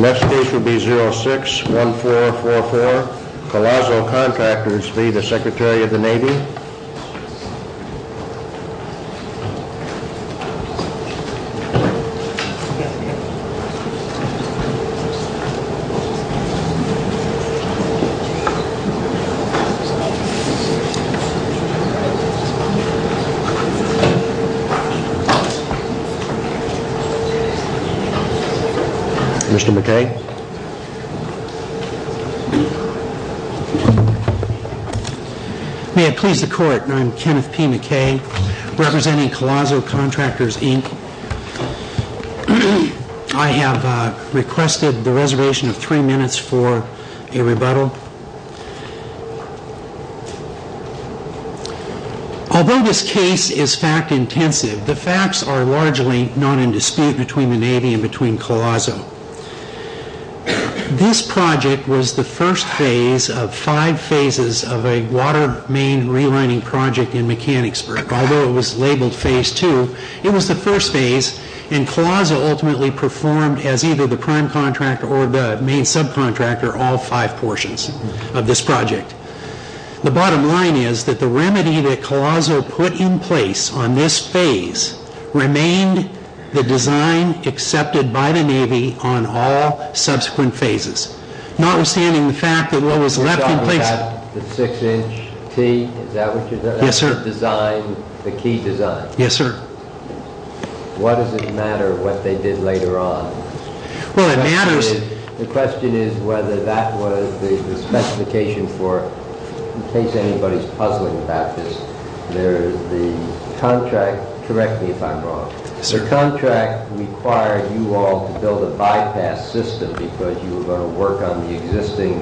Next case will be 06-1444, Galazo Contractors v. the Secretary of the Navy May I please the court, I'm Kenneth P. McKay, representing Galazo Contractors, Inc. I have requested the reservation of three minutes for a rebuttal. Although this case is fact intensive, the facts are largely not in dispute between the Navy and Galazo. This project was the first phase of five phases of a water main relining project in Mechanicsburg. Although it was labeled phase two, it was the first phase, and Galazo ultimately performed as either the prime contractor or the main subcontractor all five portions of this project. The bottom line is that the remedy that Galazo put in place on this phase remained the design accepted by the Navy on all subsequent phases. Notwithstanding the fact that what was left in place... The six inch T, is that what you're talking about? Yes, sir. The design, the key design? Yes, sir. What does it matter what they did later on? Well, it matters... The question is whether that was the specification for, in case anybody's puzzling about this, there's the contract, correct me if I'm wrong. Yes, sir. The contract required you all to build a bypass system because you were going to work on the existing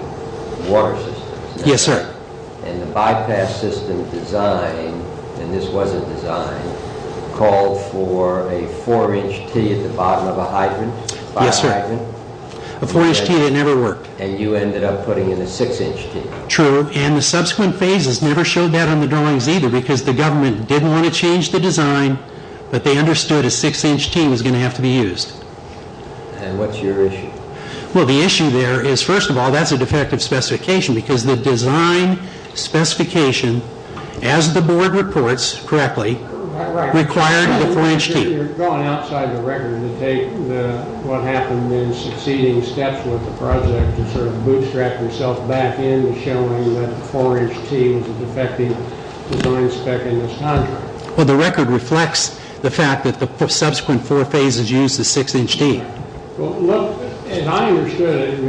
water systems. Yes, sir. And the bypass system design, and this was a design, called for a four inch T at the bottom of a hydrant. Yes, sir. A four inch T that never worked. And you ended up putting in a six inch T. True, and the subsequent phases never showed that on the drawings either because the government didn't want to change the design, but they understood a six inch T was going to have to be used. And what's your issue? Well, the issue there is, first of all, that's a defective specification because the design specification, as the board reports correctly, required the four inch T. You're going outside the record to take what happened in succeeding steps with the project to sort of bootstrap yourself back in to showing that the four inch T was a defective design spec in this contract. Well, the record reflects the fact that the subsequent four phases used the six inch T. Well, look, as I understood it,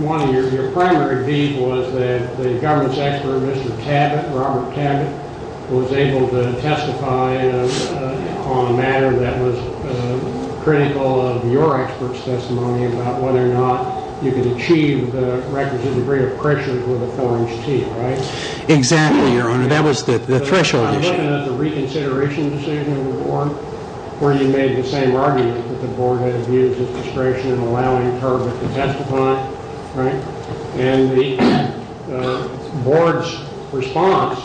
one of your primary views was that the government's expert, Mr. Tabbitt, Robert Tabbitt, was able to testify on a matter that was critical of your expert's testimony about whether or not you could achieve the requisite degree of pressure with a four inch T, right? Exactly, Your Honor. That was the threshold issue. You mentioned the reconsideration decision of the board where you made the same argument that the board had abused its discretion in allowing Turbett to testify, right? And the board's response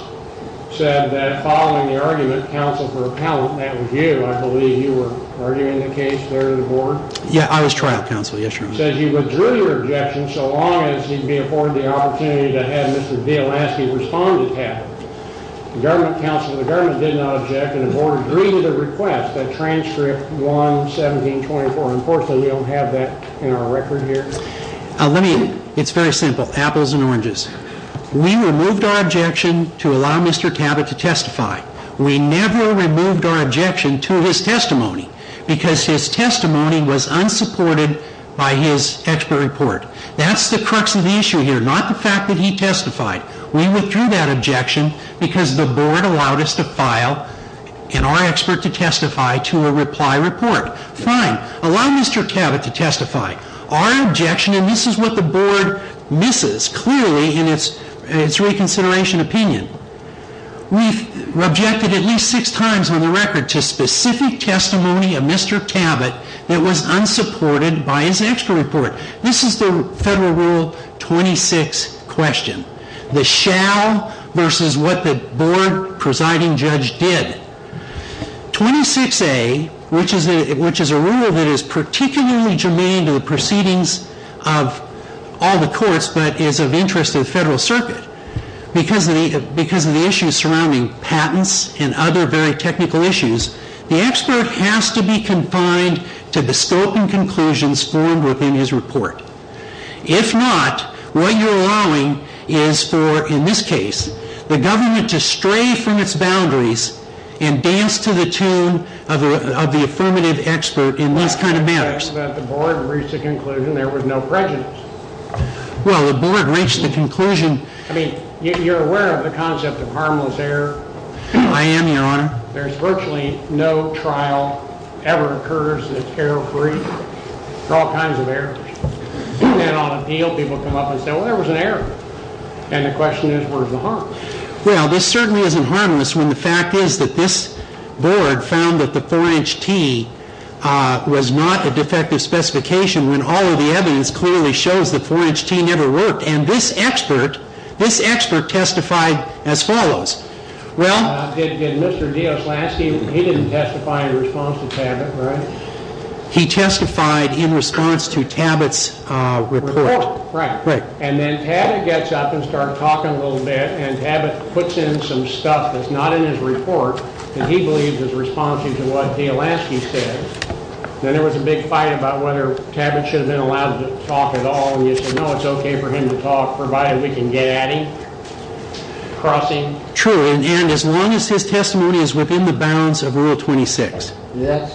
said that following the argument, counsel for appellant, that was you, I believe you were arguing the case there to the board. Yeah, I was trial counsel, yes, Your Honor. He says he withdrew your objection so long as he'd be afforded the opportunity to have Mr. Vialaski respond to Tabbitt. The government counsel of the government did not object and the board agreed to the request that transcript 11724. Unfortunately, we don't have that in our record here. Let me, it's very simple, apples and oranges. We removed our objection to allow Mr. Tabbitt to testify. We never removed our objection to his testimony because his testimony was unsupported by his expert report. That's the crux of the issue here, not the fact that he testified. We withdrew that objection because the board allowed us to file and our expert to testify to a reply report. Fine, allow Mr. Tabbitt to testify. Our objection, and this is what the board misses clearly in its reconsideration opinion. We've objected at least six times on the record to specific testimony of Mr. Tabbitt that was unsupported by his expert report. This is the federal rule 26 question. The shall versus what the board presiding judge did. 26A, which is a rule that is particularly germane to the proceedings of all the courts, but is of interest to the federal circuit because of the issues surrounding patents and other very technical issues. The expert has to be confined to the scope and conclusions formed within his report. If not, what you're allowing is for, in this case, the government to stray from its boundaries and dance to the tune of the affirmative expert in these kind of matters. I object that the board reached a conclusion there was no prejudice. Well, the board reached the conclusion. I mean, you're aware of the concept of harmless error. I am, Your Honor. There's virtually no trial ever occurs that's error free. There are all kinds of errors. And on appeal, people come up and say, well, there was an error. And the question is, where's the harm? Well, this certainly isn't harmless when the fact is that this board found that the 4-inch T was not a defective specification when all of the evidence clearly shows the 4-inch T never worked. And this expert testified as follows. Well. Did Mr. Dioslansky, he didn't testify in response to Tabit, right? He testified in response to Tabit's report. Right. And then Tabit gets up and starts talking a little bit. And Tabit puts in some stuff that's not in his report that he believes is responsive to what Dioslansky said. Then there was a big fight about whether Tabit should have been allowed to talk at all. And he said, no, it's okay for him to talk provided we can get at him, cross him. True. And as long as his testimony is within the bounds of Rule 26. So you're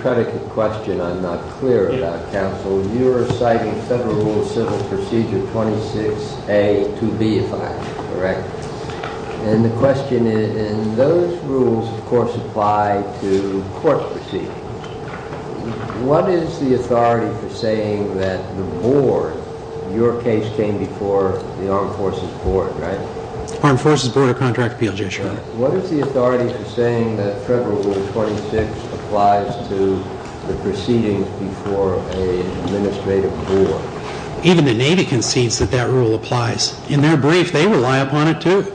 citing Federal Rule of Civil Procedure 26A to B, if I'm correct. And the question is, and those rules, of course, apply to court proceedings. What is the authority for saying that the board, your case came before the Armed Forces Board, right? Armed Forces Board of Contract Appeals, yes, Your Honor. What is the authority for saying that Federal Rule 26 applies to the proceedings before an administrative board? Even the Navy concedes that that rule applies. In their brief, they rely upon it, too.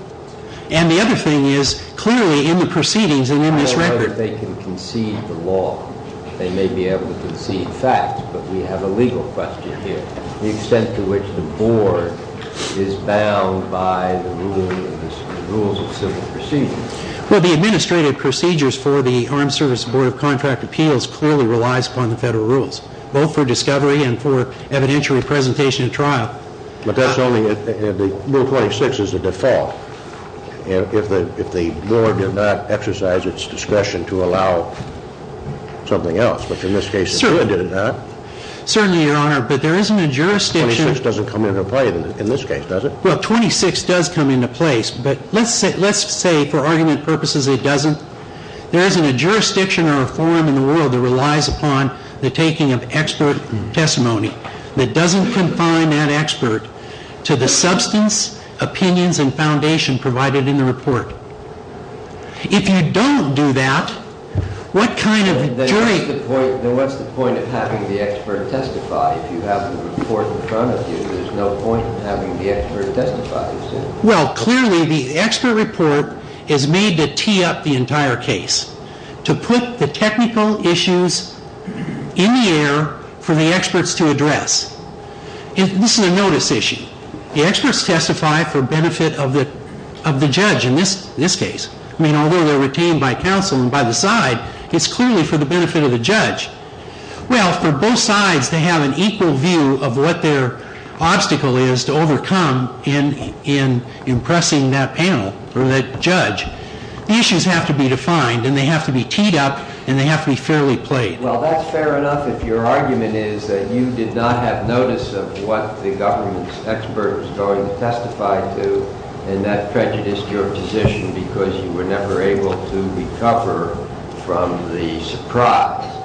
And the other thing is, clearly in the proceedings and in this record. I don't know whether they can concede the law. They may be able to concede facts, but we have a legal question here. The extent to which the board is bound by the rules of civil proceedings. Well, the administrative procedures for the Armed Services Board of Contract Appeals clearly relies upon the Federal rules. Both for discovery and for evidentiary presentation at trial. But that's only, Rule 26 is the default. If the board did not exercise its discretion to allow something else, which in this case it did not. Certainly, Your Honor, but there isn't a jurisdiction. Rule 26 doesn't come into play in this case, does it? Rule 26 does come into play, but let's say for argument purposes it doesn't. There isn't a jurisdiction or a forum in the world that relies upon the taking of expert testimony. That doesn't confine that expert to the substance, opinions, and foundation provided in the report. If you don't do that, what kind of jury... Then what's the point of having the expert testify if you have the report in front of you? There's no point in having the expert testify. Well, clearly the expert report is made to tee up the entire case. To put the technical issues in the air for the experts to address. This is a notice issue. The experts testify for benefit of the judge in this case. I mean, although they're retained by counsel and by the side, it's clearly for the benefit of the judge. Well, for both sides to have an equal view of what their obstacle is to overcome in impressing that panel or that judge, the issues have to be defined and they have to be teed up and they have to be fairly played. Well, that's fair enough if your argument is that you did not have notice of what the government's expert was going to testify to and that prejudiced your position because you were never able to recover from the surprise.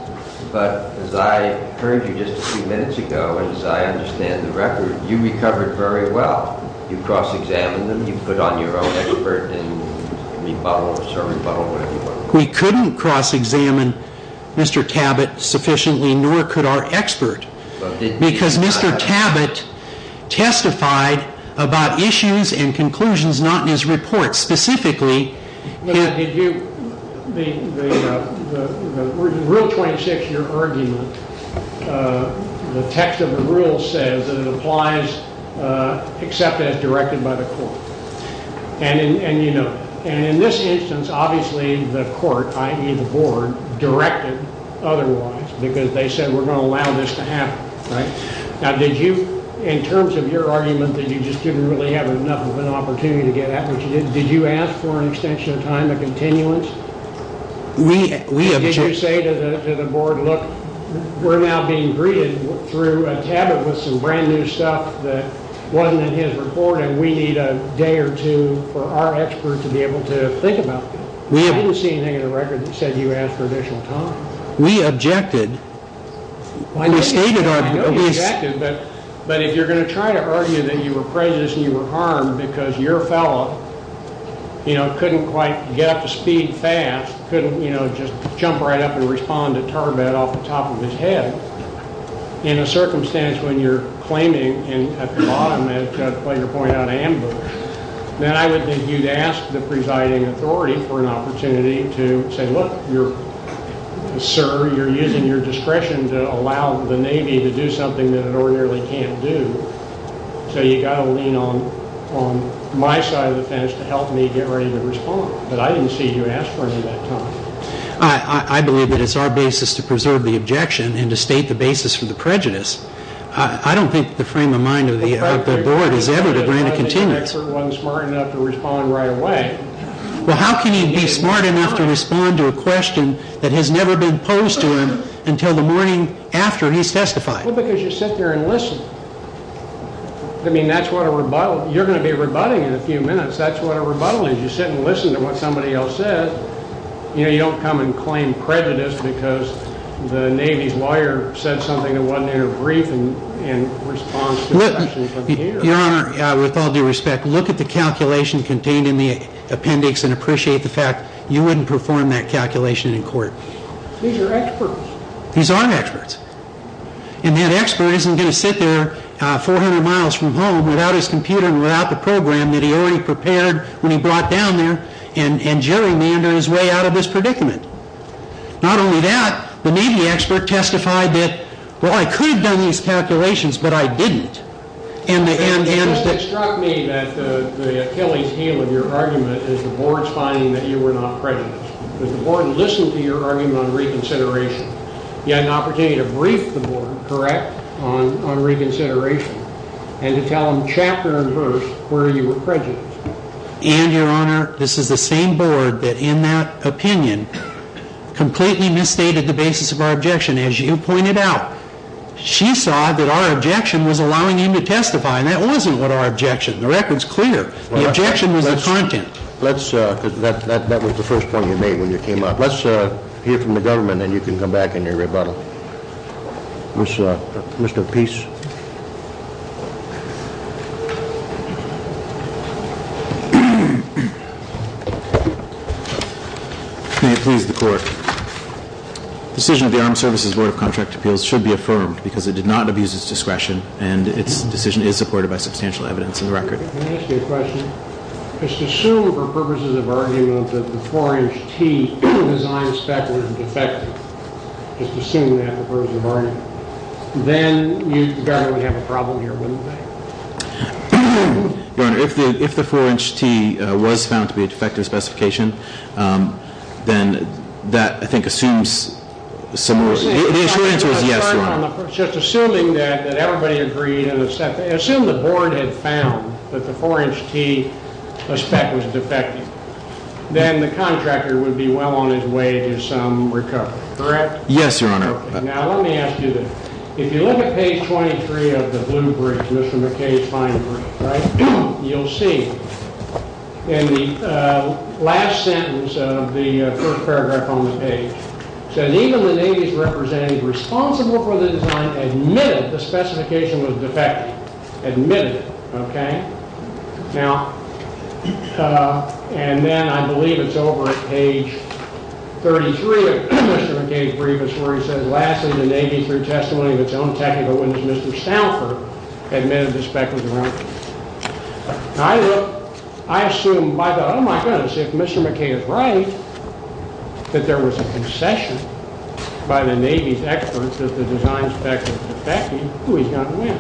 But as I heard you just a few minutes ago, and as I understand the record, you recovered very well. You cross-examined them, you put on your own expert and rebuttal, or sort of rebuttal, whatever you want to call it. We couldn't cross-examine Mr. Tabbitt sufficiently, nor could our expert. Because Mr. Tabbitt testified about issues and conclusions not in his report. Specifically, the Rule 26, your argument, the text of the rule says that it applies except as directed by the court. And in this instance, obviously the court, i.e. the board, directed otherwise because they said we're going to allow this to happen. Now, in terms of your argument that you just didn't really have enough of an opportunity to get at what you did, did you ask for an extension of time, a continuance? Did you say to the board, look, we're now being greeted through Tabbitt with some brand new stuff that wasn't in his report and we need a day or two for our expert to be able to think about that? I didn't see anything in the record that said you asked for additional time. We objected. But if you're going to try to argue that you were prejudiced and you were harmed because your fellow, you know, couldn't quite get up to speed fast, couldn't, you know, just jump right up and respond to Tarbett off the top of his head, in a circumstance when you're claiming at the bottom, as Judge Flager pointed out, ambush, then I would think you'd ask the presiding authority for an opportunity to say, look, sir, you're using your discretion to allow the Navy to do something that it ordinarily can't do. So you've got to lean on my side of the fence to help me get ready to respond. But I didn't see you ask for any of that time. I believe that it's our basis to preserve the objection and to state the basis for the prejudice. I don't think the frame of mind of the board is ever to grant a continuance. I think the expert wasn't smart enough to respond right away. Well, how can you be smart enough to respond to a question that has never been posed to him until the morning after he's testified? Well, because you sit there and listen. I mean, that's what a rebuttal, you're going to be rebutting in a few minutes. That's what a rebuttal is. You sit and listen to what somebody else says. You know, you don't come and claim prejudice because the Navy's lawyer said something that wasn't in her brief in response to questions of the hearing. Your Honor, with all due respect, look at the calculation contained in the appendix and appreciate the fact you wouldn't perform that calculation in court. These are experts. These are experts. And that expert isn't going to sit there 400 miles from home without his computer and without the program that he already prepared when he brought down there and gerrymander his way out of this predicament. Not only that, the Navy expert testified that, well, I could have done these calculations, but I didn't. It struck me that the killing scale of your argument is the board's finding that you were not prejudiced. The board listened to your argument on reconsideration. You had an opportunity to brief the board, correct, on reconsideration and to tell them chapter and verse where you were prejudiced. And, Your Honor, this is the same board that, in that opinion, completely misstated the basis of our objection. As you pointed out, she saw that our objection was allowing him to testify, and that wasn't our objection. The record's clear. The objection was the content. That was the first point you made when you came up. Let's hear from the government, and then you can come back in your rebuttal. Mr. Peace. May it please the court. The decision of the Armed Services Board of Contract Appeals should be affirmed because it did not abuse its discretion, and its decision is supported by substantial evidence in the record. May I ask you a question? Just assume, for purposes of argument, that the 4-inch T design spec was defective. Just assume that for purposes of argument. Then you'd probably have a problem here, wouldn't they? Your Honor, if the 4-inch T was found to be a defective specification, then that, I think, assumes some more— The short answer is yes, Your Honor. Just assuming that everybody agreed, and assumed the board had found that the 4-inch T spec was defective, then the contractor would be well on his way to some recovery, correct? Yes, Your Honor. Now, let me ask you this. If you look at page 23 of the blue brief, Mr. McKay's fine brief, you'll see in the last sentence of the first paragraph on the page, that even the Navy's representative responsible for the design admitted the specification was defective. Admitted it. Okay? Now, and then I believe it's over at page 33 of Mr. McKay's brief, where he says, lastly, the Navy, through testimony of its own technical witness, Mr. Stauffer, admitted the spec was wrong. Now, I assume, by the—oh, my goodness, if Mr. McKay is right, that there was a concession by the Navy's experts that the design spec was defective, ooh, he's got to win.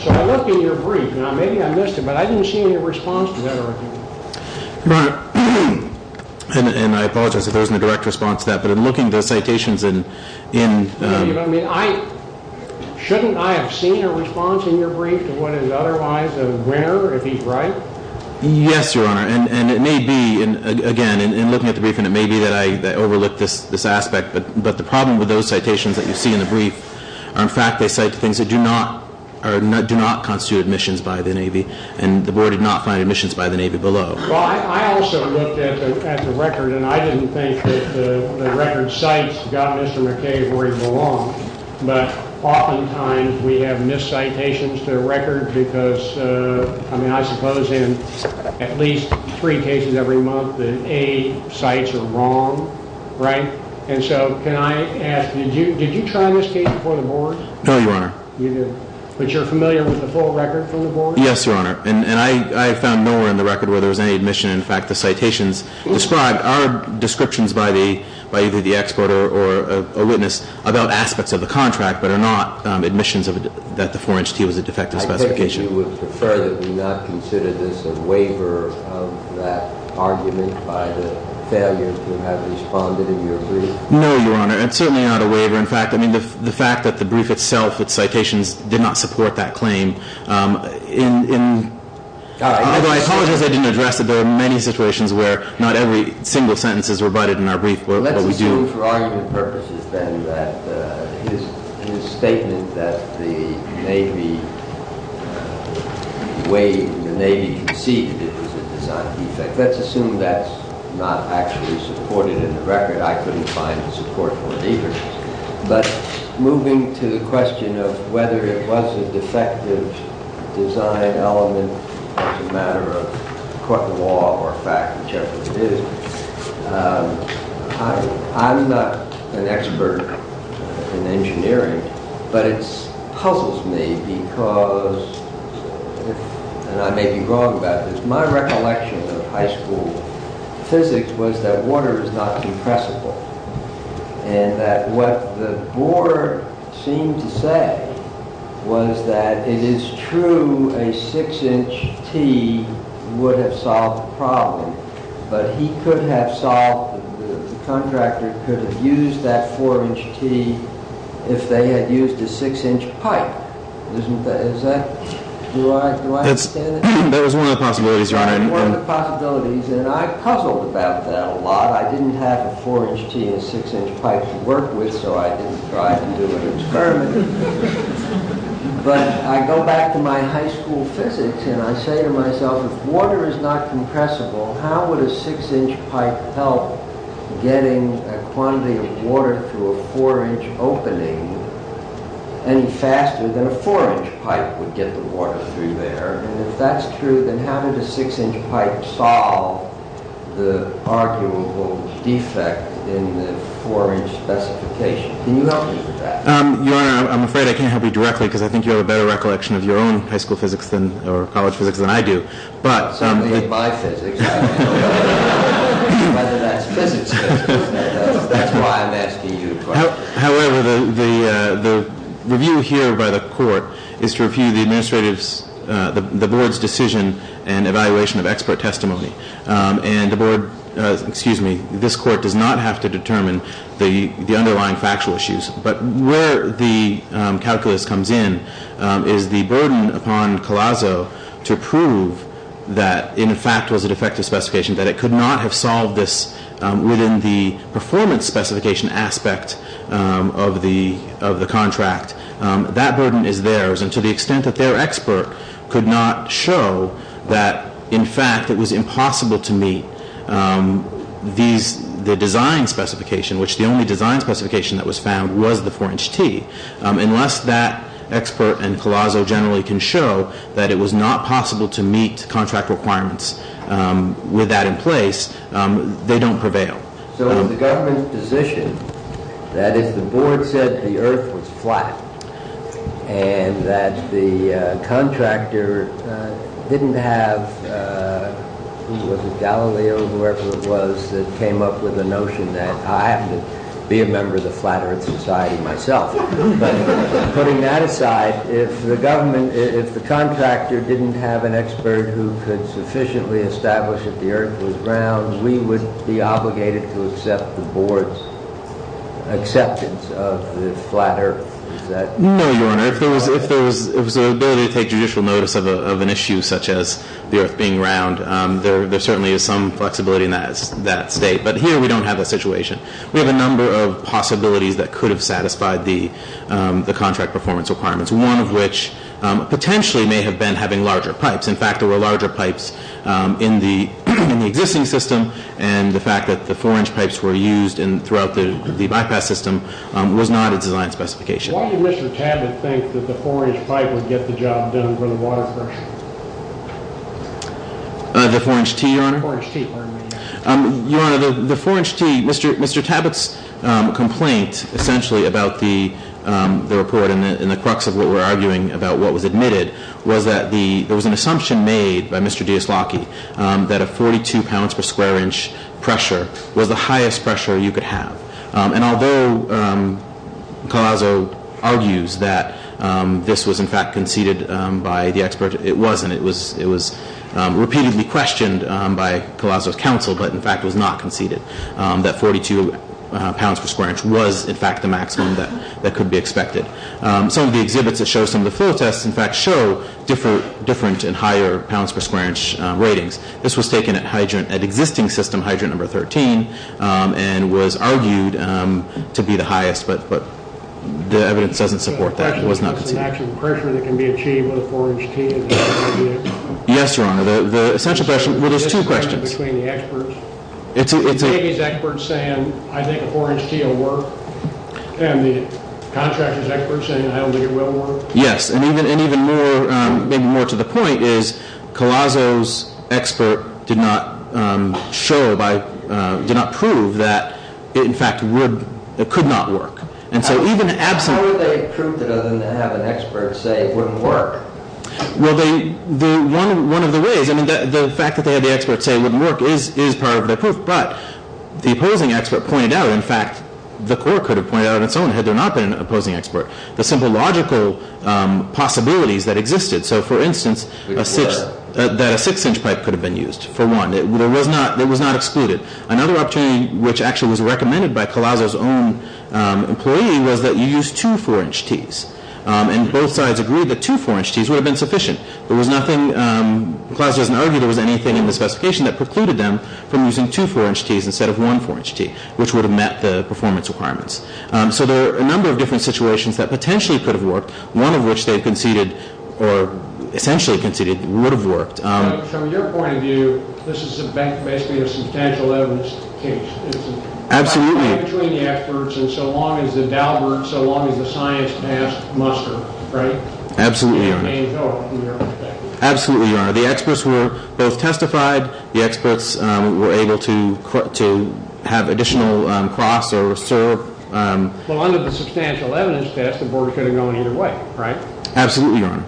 So I looked in your brief. Now, maybe I missed it, but I didn't see any response to that argument. Your Honor, and I apologize if there wasn't a direct response to that, but in looking at the citations in— shouldn't I have seen a response in your brief to what is otherwise a winner, if he's right? Yes, Your Honor, and it may be, again, in looking at the brief, and it may be that I overlooked this aspect, but the problem with those citations that you see in the brief are, in fact, they cite things that do not constitute admissions by the Navy, and the Board did not find admissions by the Navy below. Well, I also looked at the record, and I didn't think that the record cites God and Mr. McKay where he belonged, but oftentimes we have missed citations to the record because, I mean, I suppose in at least three cases every month, the A cites are wrong, right? And so can I ask, did you try this case before the Board? No, Your Honor. You didn't, but you're familiar with the full record from the Board? Yes, Your Honor, and I found nowhere in the record where there was any admission. In fact, the citations described are descriptions by either the exporter or a witness about aspects of the contract but are not admissions that the 4-inch T was a defective specification. I take it you would prefer that we not consider this a waiver of that argument by the failures who have responded in your brief? No, Your Honor, and certainly not a waiver. In fact, I mean, the fact that the brief itself, its citations, did not support that claim. I apologize I didn't address it. There are many situations where not every single sentence is rebutted in our brief, but we do. Let's assume for argument purposes then that his statement that the Navy received it was a design defect. Let's assume that's not actually supported in the record. I couldn't find the support for it either. But moving to the question of whether it was a defective design element as a matter of court of law or fact, whichever it is, I'm not an expert in engineering, but it puzzles me because, and I may be wrong about this, my recollection of high school physics was that water is not compressible, and that what the board seemed to say was that it is true a 6-inch T would have solved the problem, but the contractor could have used that 4-inch T if they had used a 6-inch pipe. Do I understand that? That was one of the possibilities, Your Honor. That was one of the possibilities, and I puzzled about that a lot. I didn't have a 4-inch T and a 6-inch pipe to work with, so I didn't try to do an experiment. But I go back to my high school physics, and I say to myself, if water is not compressible, how would a 6-inch pipe help getting a quantity of water through a 4-inch opening any faster than a 4-inch pipe would get the water through there? And if that's true, then how did a 6-inch pipe solve the arguable defect in the 4-inch specification? Can you help me with that? Your Honor, I'm afraid I can't help you directly because I think you have a better recollection of your own high school physics or college physics than I do. Somebody in my physics. I don't know whether that's physics. That's why I'm asking you. However, the review here by the court is to review the board's decision and evaluation of expert testimony. And this court does not have to determine the underlying factual issues. But where the calculus comes in is the burden upon Collazo to prove that, in fact, it was a defective specification, that it could not have solved this within the performance specification aspect of the contract. That burden is theirs, and to the extent that their expert could not show that, in fact, it was impossible to meet the design specification, which the only design specification that was found was the 4-inch T, unless that expert and Collazo generally can show that it was not possible to meet contract requirements with that in place, they don't prevail. So in the government's position, that is, the board said the earth was flat and that the contractor didn't have, who was it, Galileo or whoever it was, that came up with the notion that I have to be a member of the flat earth society myself. But putting that aside, if the government, if the contractor didn't have an expert who could sufficiently establish that the earth was round, we would be obligated to accept the board's acceptance of the flat earth. No, Your Honor. If there was an ability to take judicial notice of an issue such as the earth being round, there certainly is some flexibility in that state. But here we don't have that situation. We have a number of possibilities that could have satisfied the contract performance requirements, one of which potentially may have been having larger pipes. In fact, there were larger pipes in the existing system, and the fact that the 4-inch pipes were used throughout the bypass system was not a design specification. Why did Mr. Tabbitt think that the 4-inch pipe would get the job done for the water pressure? The 4-inch T, Your Honor? The 4-inch T, pardon me. Your Honor, the 4-inch T, Mr. Tabbitt's complaint, essentially, about the report and the crux of what we're arguing about what was admitted, was that there was an assumption made by Mr. Diaslocki that a 42 pounds per square inch pressure was the highest pressure you could have. And although Colasso argues that this was, in fact, conceded by the expert, it wasn't. It was repeatedly questioned by Colasso's counsel, but, in fact, was not conceded, that 42 pounds per square inch was, in fact, the maximum that could be expected. Some of the exhibits that show some of the flow tests, in fact, show different and higher pounds per square inch ratings. This was taken at existing system hydrant number 13 and was argued to be the highest, but the evidence doesn't support that. It was not conceded. The question was the maximum pressure that can be achieved with a 4-inch T. Yes, Your Honor. The essential question. Well, there's two questions. The difference between the experts. It's a- The Navy's experts saying, I think a 4-inch T will work, and the contractor's experts saying, I don't think it will work. Yes, and even more to the point is Colasso's expert did not show by- did not prove that it, in fact, could not work. And so even absent- How would they have proved it other than to have an expert say it wouldn't work? Well, one of the ways- I mean, the fact that they had the expert say it wouldn't work is part of the proof, but the opposing expert pointed out, in fact, the court could have pointed out on its own had there not been an opposing expert. The simple logical possibilities that existed. So, for instance, that a 6-inch pipe could have been used, for one. It was not excluded. Another opportunity, which actually was recommended by Colasso's own employee, was that you use two 4-inch Ts. And both sides agreed that two 4-inch Ts would have been sufficient. There was nothing- Colasso doesn't argue there was anything in the specification that precluded them from using two 4-inch Ts instead of one 4-inch T, which would have met the performance requirements. So there are a number of different situations that potentially could have worked, one of which they conceded, or essentially conceded, would have worked. So, from your point of view, this is basically a substantial evidence case. Absolutely. It's a fight between the experts, and so long as the Dalbert, so long as the science passed, muster. Right? Absolutely, Your Honor. Absolutely, Your Honor. The experts were both testified. The experts were able to have additional cross or serve. Well, under the substantial evidence test, the board could have gone either way, right? Absolutely, Your Honor.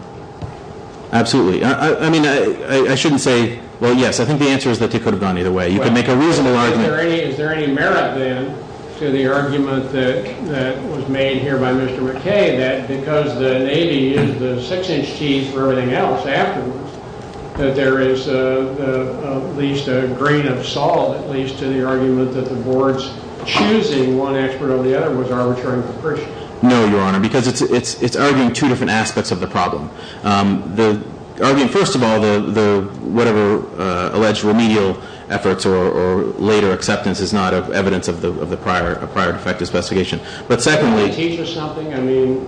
Absolutely. I mean, I shouldn't say- Well, yes, I think the answer is that they could have gone either way. You can make a reasonable argument- Is there any merit, then, to the argument that was made here by Mr. McKay, that because the Navy used the 6-inch Ts for everything else afterwards, that there is at least a grain of salt, at least, to the argument that the board's choosing one expert over the other was arbitrary and capricious? No, Your Honor, because it's arguing two different aspects of the problem. Arguing, first of all, whatever alleged remedial efforts or later acceptance is not evidence of the prior defective investigation. But secondly- I mean-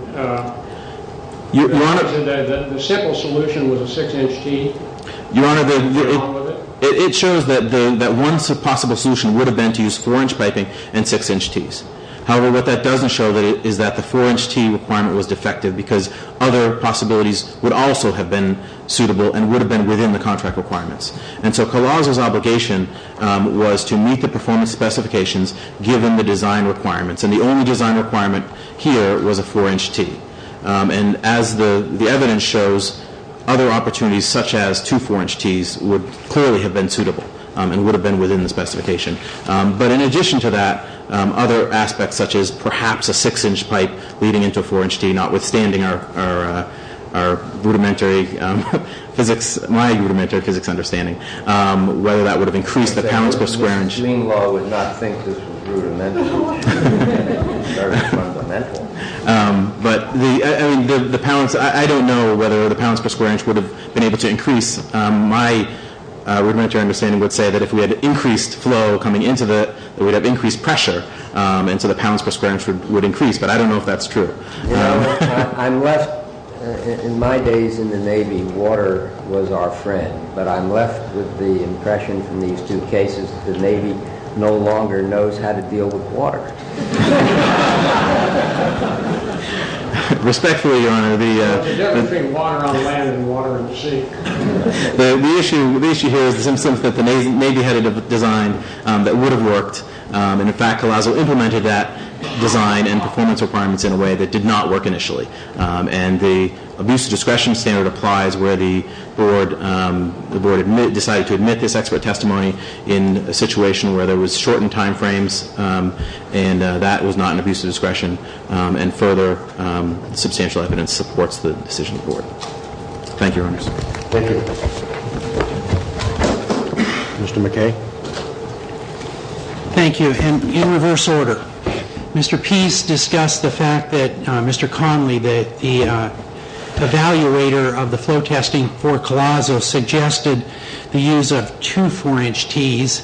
Your Honor- The simple solution was a 6-inch T. Your Honor, it shows that one possible solution would have been to use 4-inch piping and 6-inch Ts. However, what that doesn't show is that the 4-inch T requirement was defective because other possibilities would also have been suitable and would have been within the contract requirements. And so Collazo's obligation was to meet the performance specifications given the design requirements. And the only design requirement here was a 4-inch T. And as the evidence shows, other opportunities, such as two 4-inch Ts, would clearly have been suitable and would have been within the specification. But in addition to that, other aspects such as perhaps a 6-inch pipe leading into a 4-inch T, notwithstanding our rudimentary physics, my rudimentary physics understanding, whether that would have increased the pounds per square inch- I don't know whether the pounds per square inch would have been able to increase. My rudimentary understanding would say that if we had increased flow coming into the- that we'd have increased pressure, and so the pounds per square inch would increase. But I don't know if that's true. I'm left- In my days in the Navy, water was our friend. But I'm left with the impression from these two cases that the Navy no longer knows how to deal with water. Respectfully, Your Honor, the- There's everything water on land and water in the sea. The issue here is that the Navy had a design that would have worked. And, in fact, COLAZO implemented that design and performance requirements in a way that did not work initially. And the abuse of discretion standard applies where the board decided to admit this expert testimony in a situation where there was shortened time frames, and that was not an abuse of discretion. And further, substantial evidence supports the decision of the board. Thank you, Your Honor. Thank you. Mr. McKay. Thank you. And in reverse order, Mr. Peace discussed the fact that Mr. Conley, the evaluator of the flow testing for COLAZO, suggested the use of two 4-inch tees.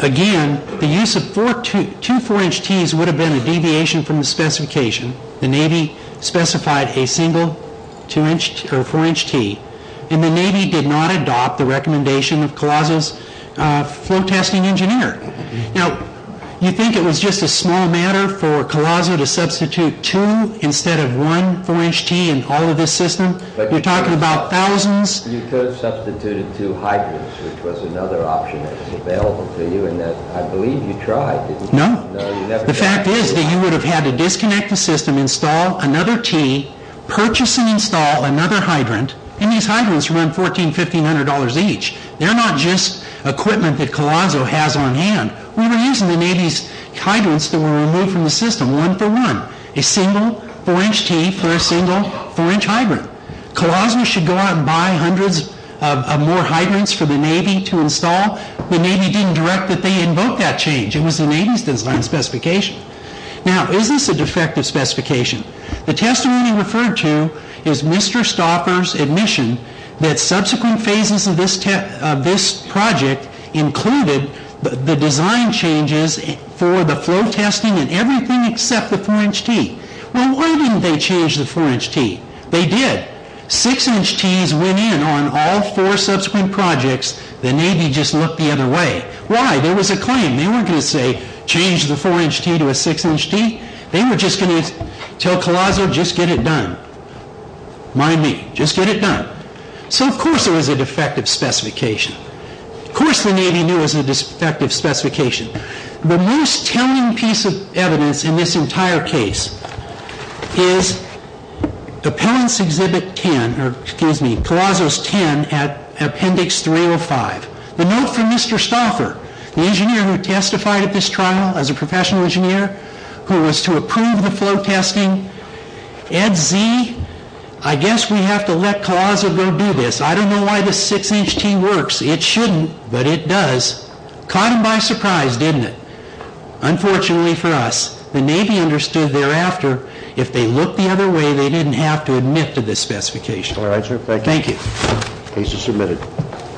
Again, the use of two 4-inch tees would have been a deviation from the specification. The Navy specified a single 4-inch tee. And the Navy did not adopt the recommendation of COLAZO's flow testing engineer. Now, you think it was just a small matter for COLAZO to substitute two instead of one 4-inch tee in all of this system? You're talking about thousands. You could have substituted two hydrants, which was another option that was available to you, and I believe you tried, didn't you? No. The fact is that you would have had to disconnect the system, install another tee, purchase and install another hydrant, and these hydrants run $1,400, $1,500 each. They're not just equipment that COLAZO has on hand. We were using the Navy's hydrants that were removed from the system, one for one, a single 4-inch tee for a single 4-inch hydrant. COLAZO should go out and buy hundreds of more hydrants for the Navy to install. The Navy didn't direct that they invoke that change. It was the Navy's design specification. Now, is this a defective specification? The testimony referred to is Mr. Stauffer's admission that subsequent phases of this project included the design changes for the flow testing and everything except the 4-inch tee. Well, why didn't they change the 4-inch tee? They did. 6-inch tees went in on all four subsequent projects. The Navy just looked the other way. Why? There was a claim. They weren't going to say, change the 4-inch tee to a 6-inch tee. They were just going to tell COLAZO, just get it done. Mind me, just get it done. So of course it was a defective specification. Of course the Navy knew it was a defective specification. The most telling piece of evidence in this entire case is Appellant's Exhibit 10, or excuse me, COLAZO's 10 at Appendix 305. The note from Mr. Stauffer, the engineer who testified at this trial as a professional engineer, who was to approve the flow testing, Ed Z., I guess we have to let COLAZO go do this. I don't know why the 6-inch tee works. It shouldn't, but it does. Caught him by surprise, didn't it? Unfortunately for us, the Navy understood thereafter, if they looked the other way, they didn't have to admit to this specification. Thank you. Case is submitted.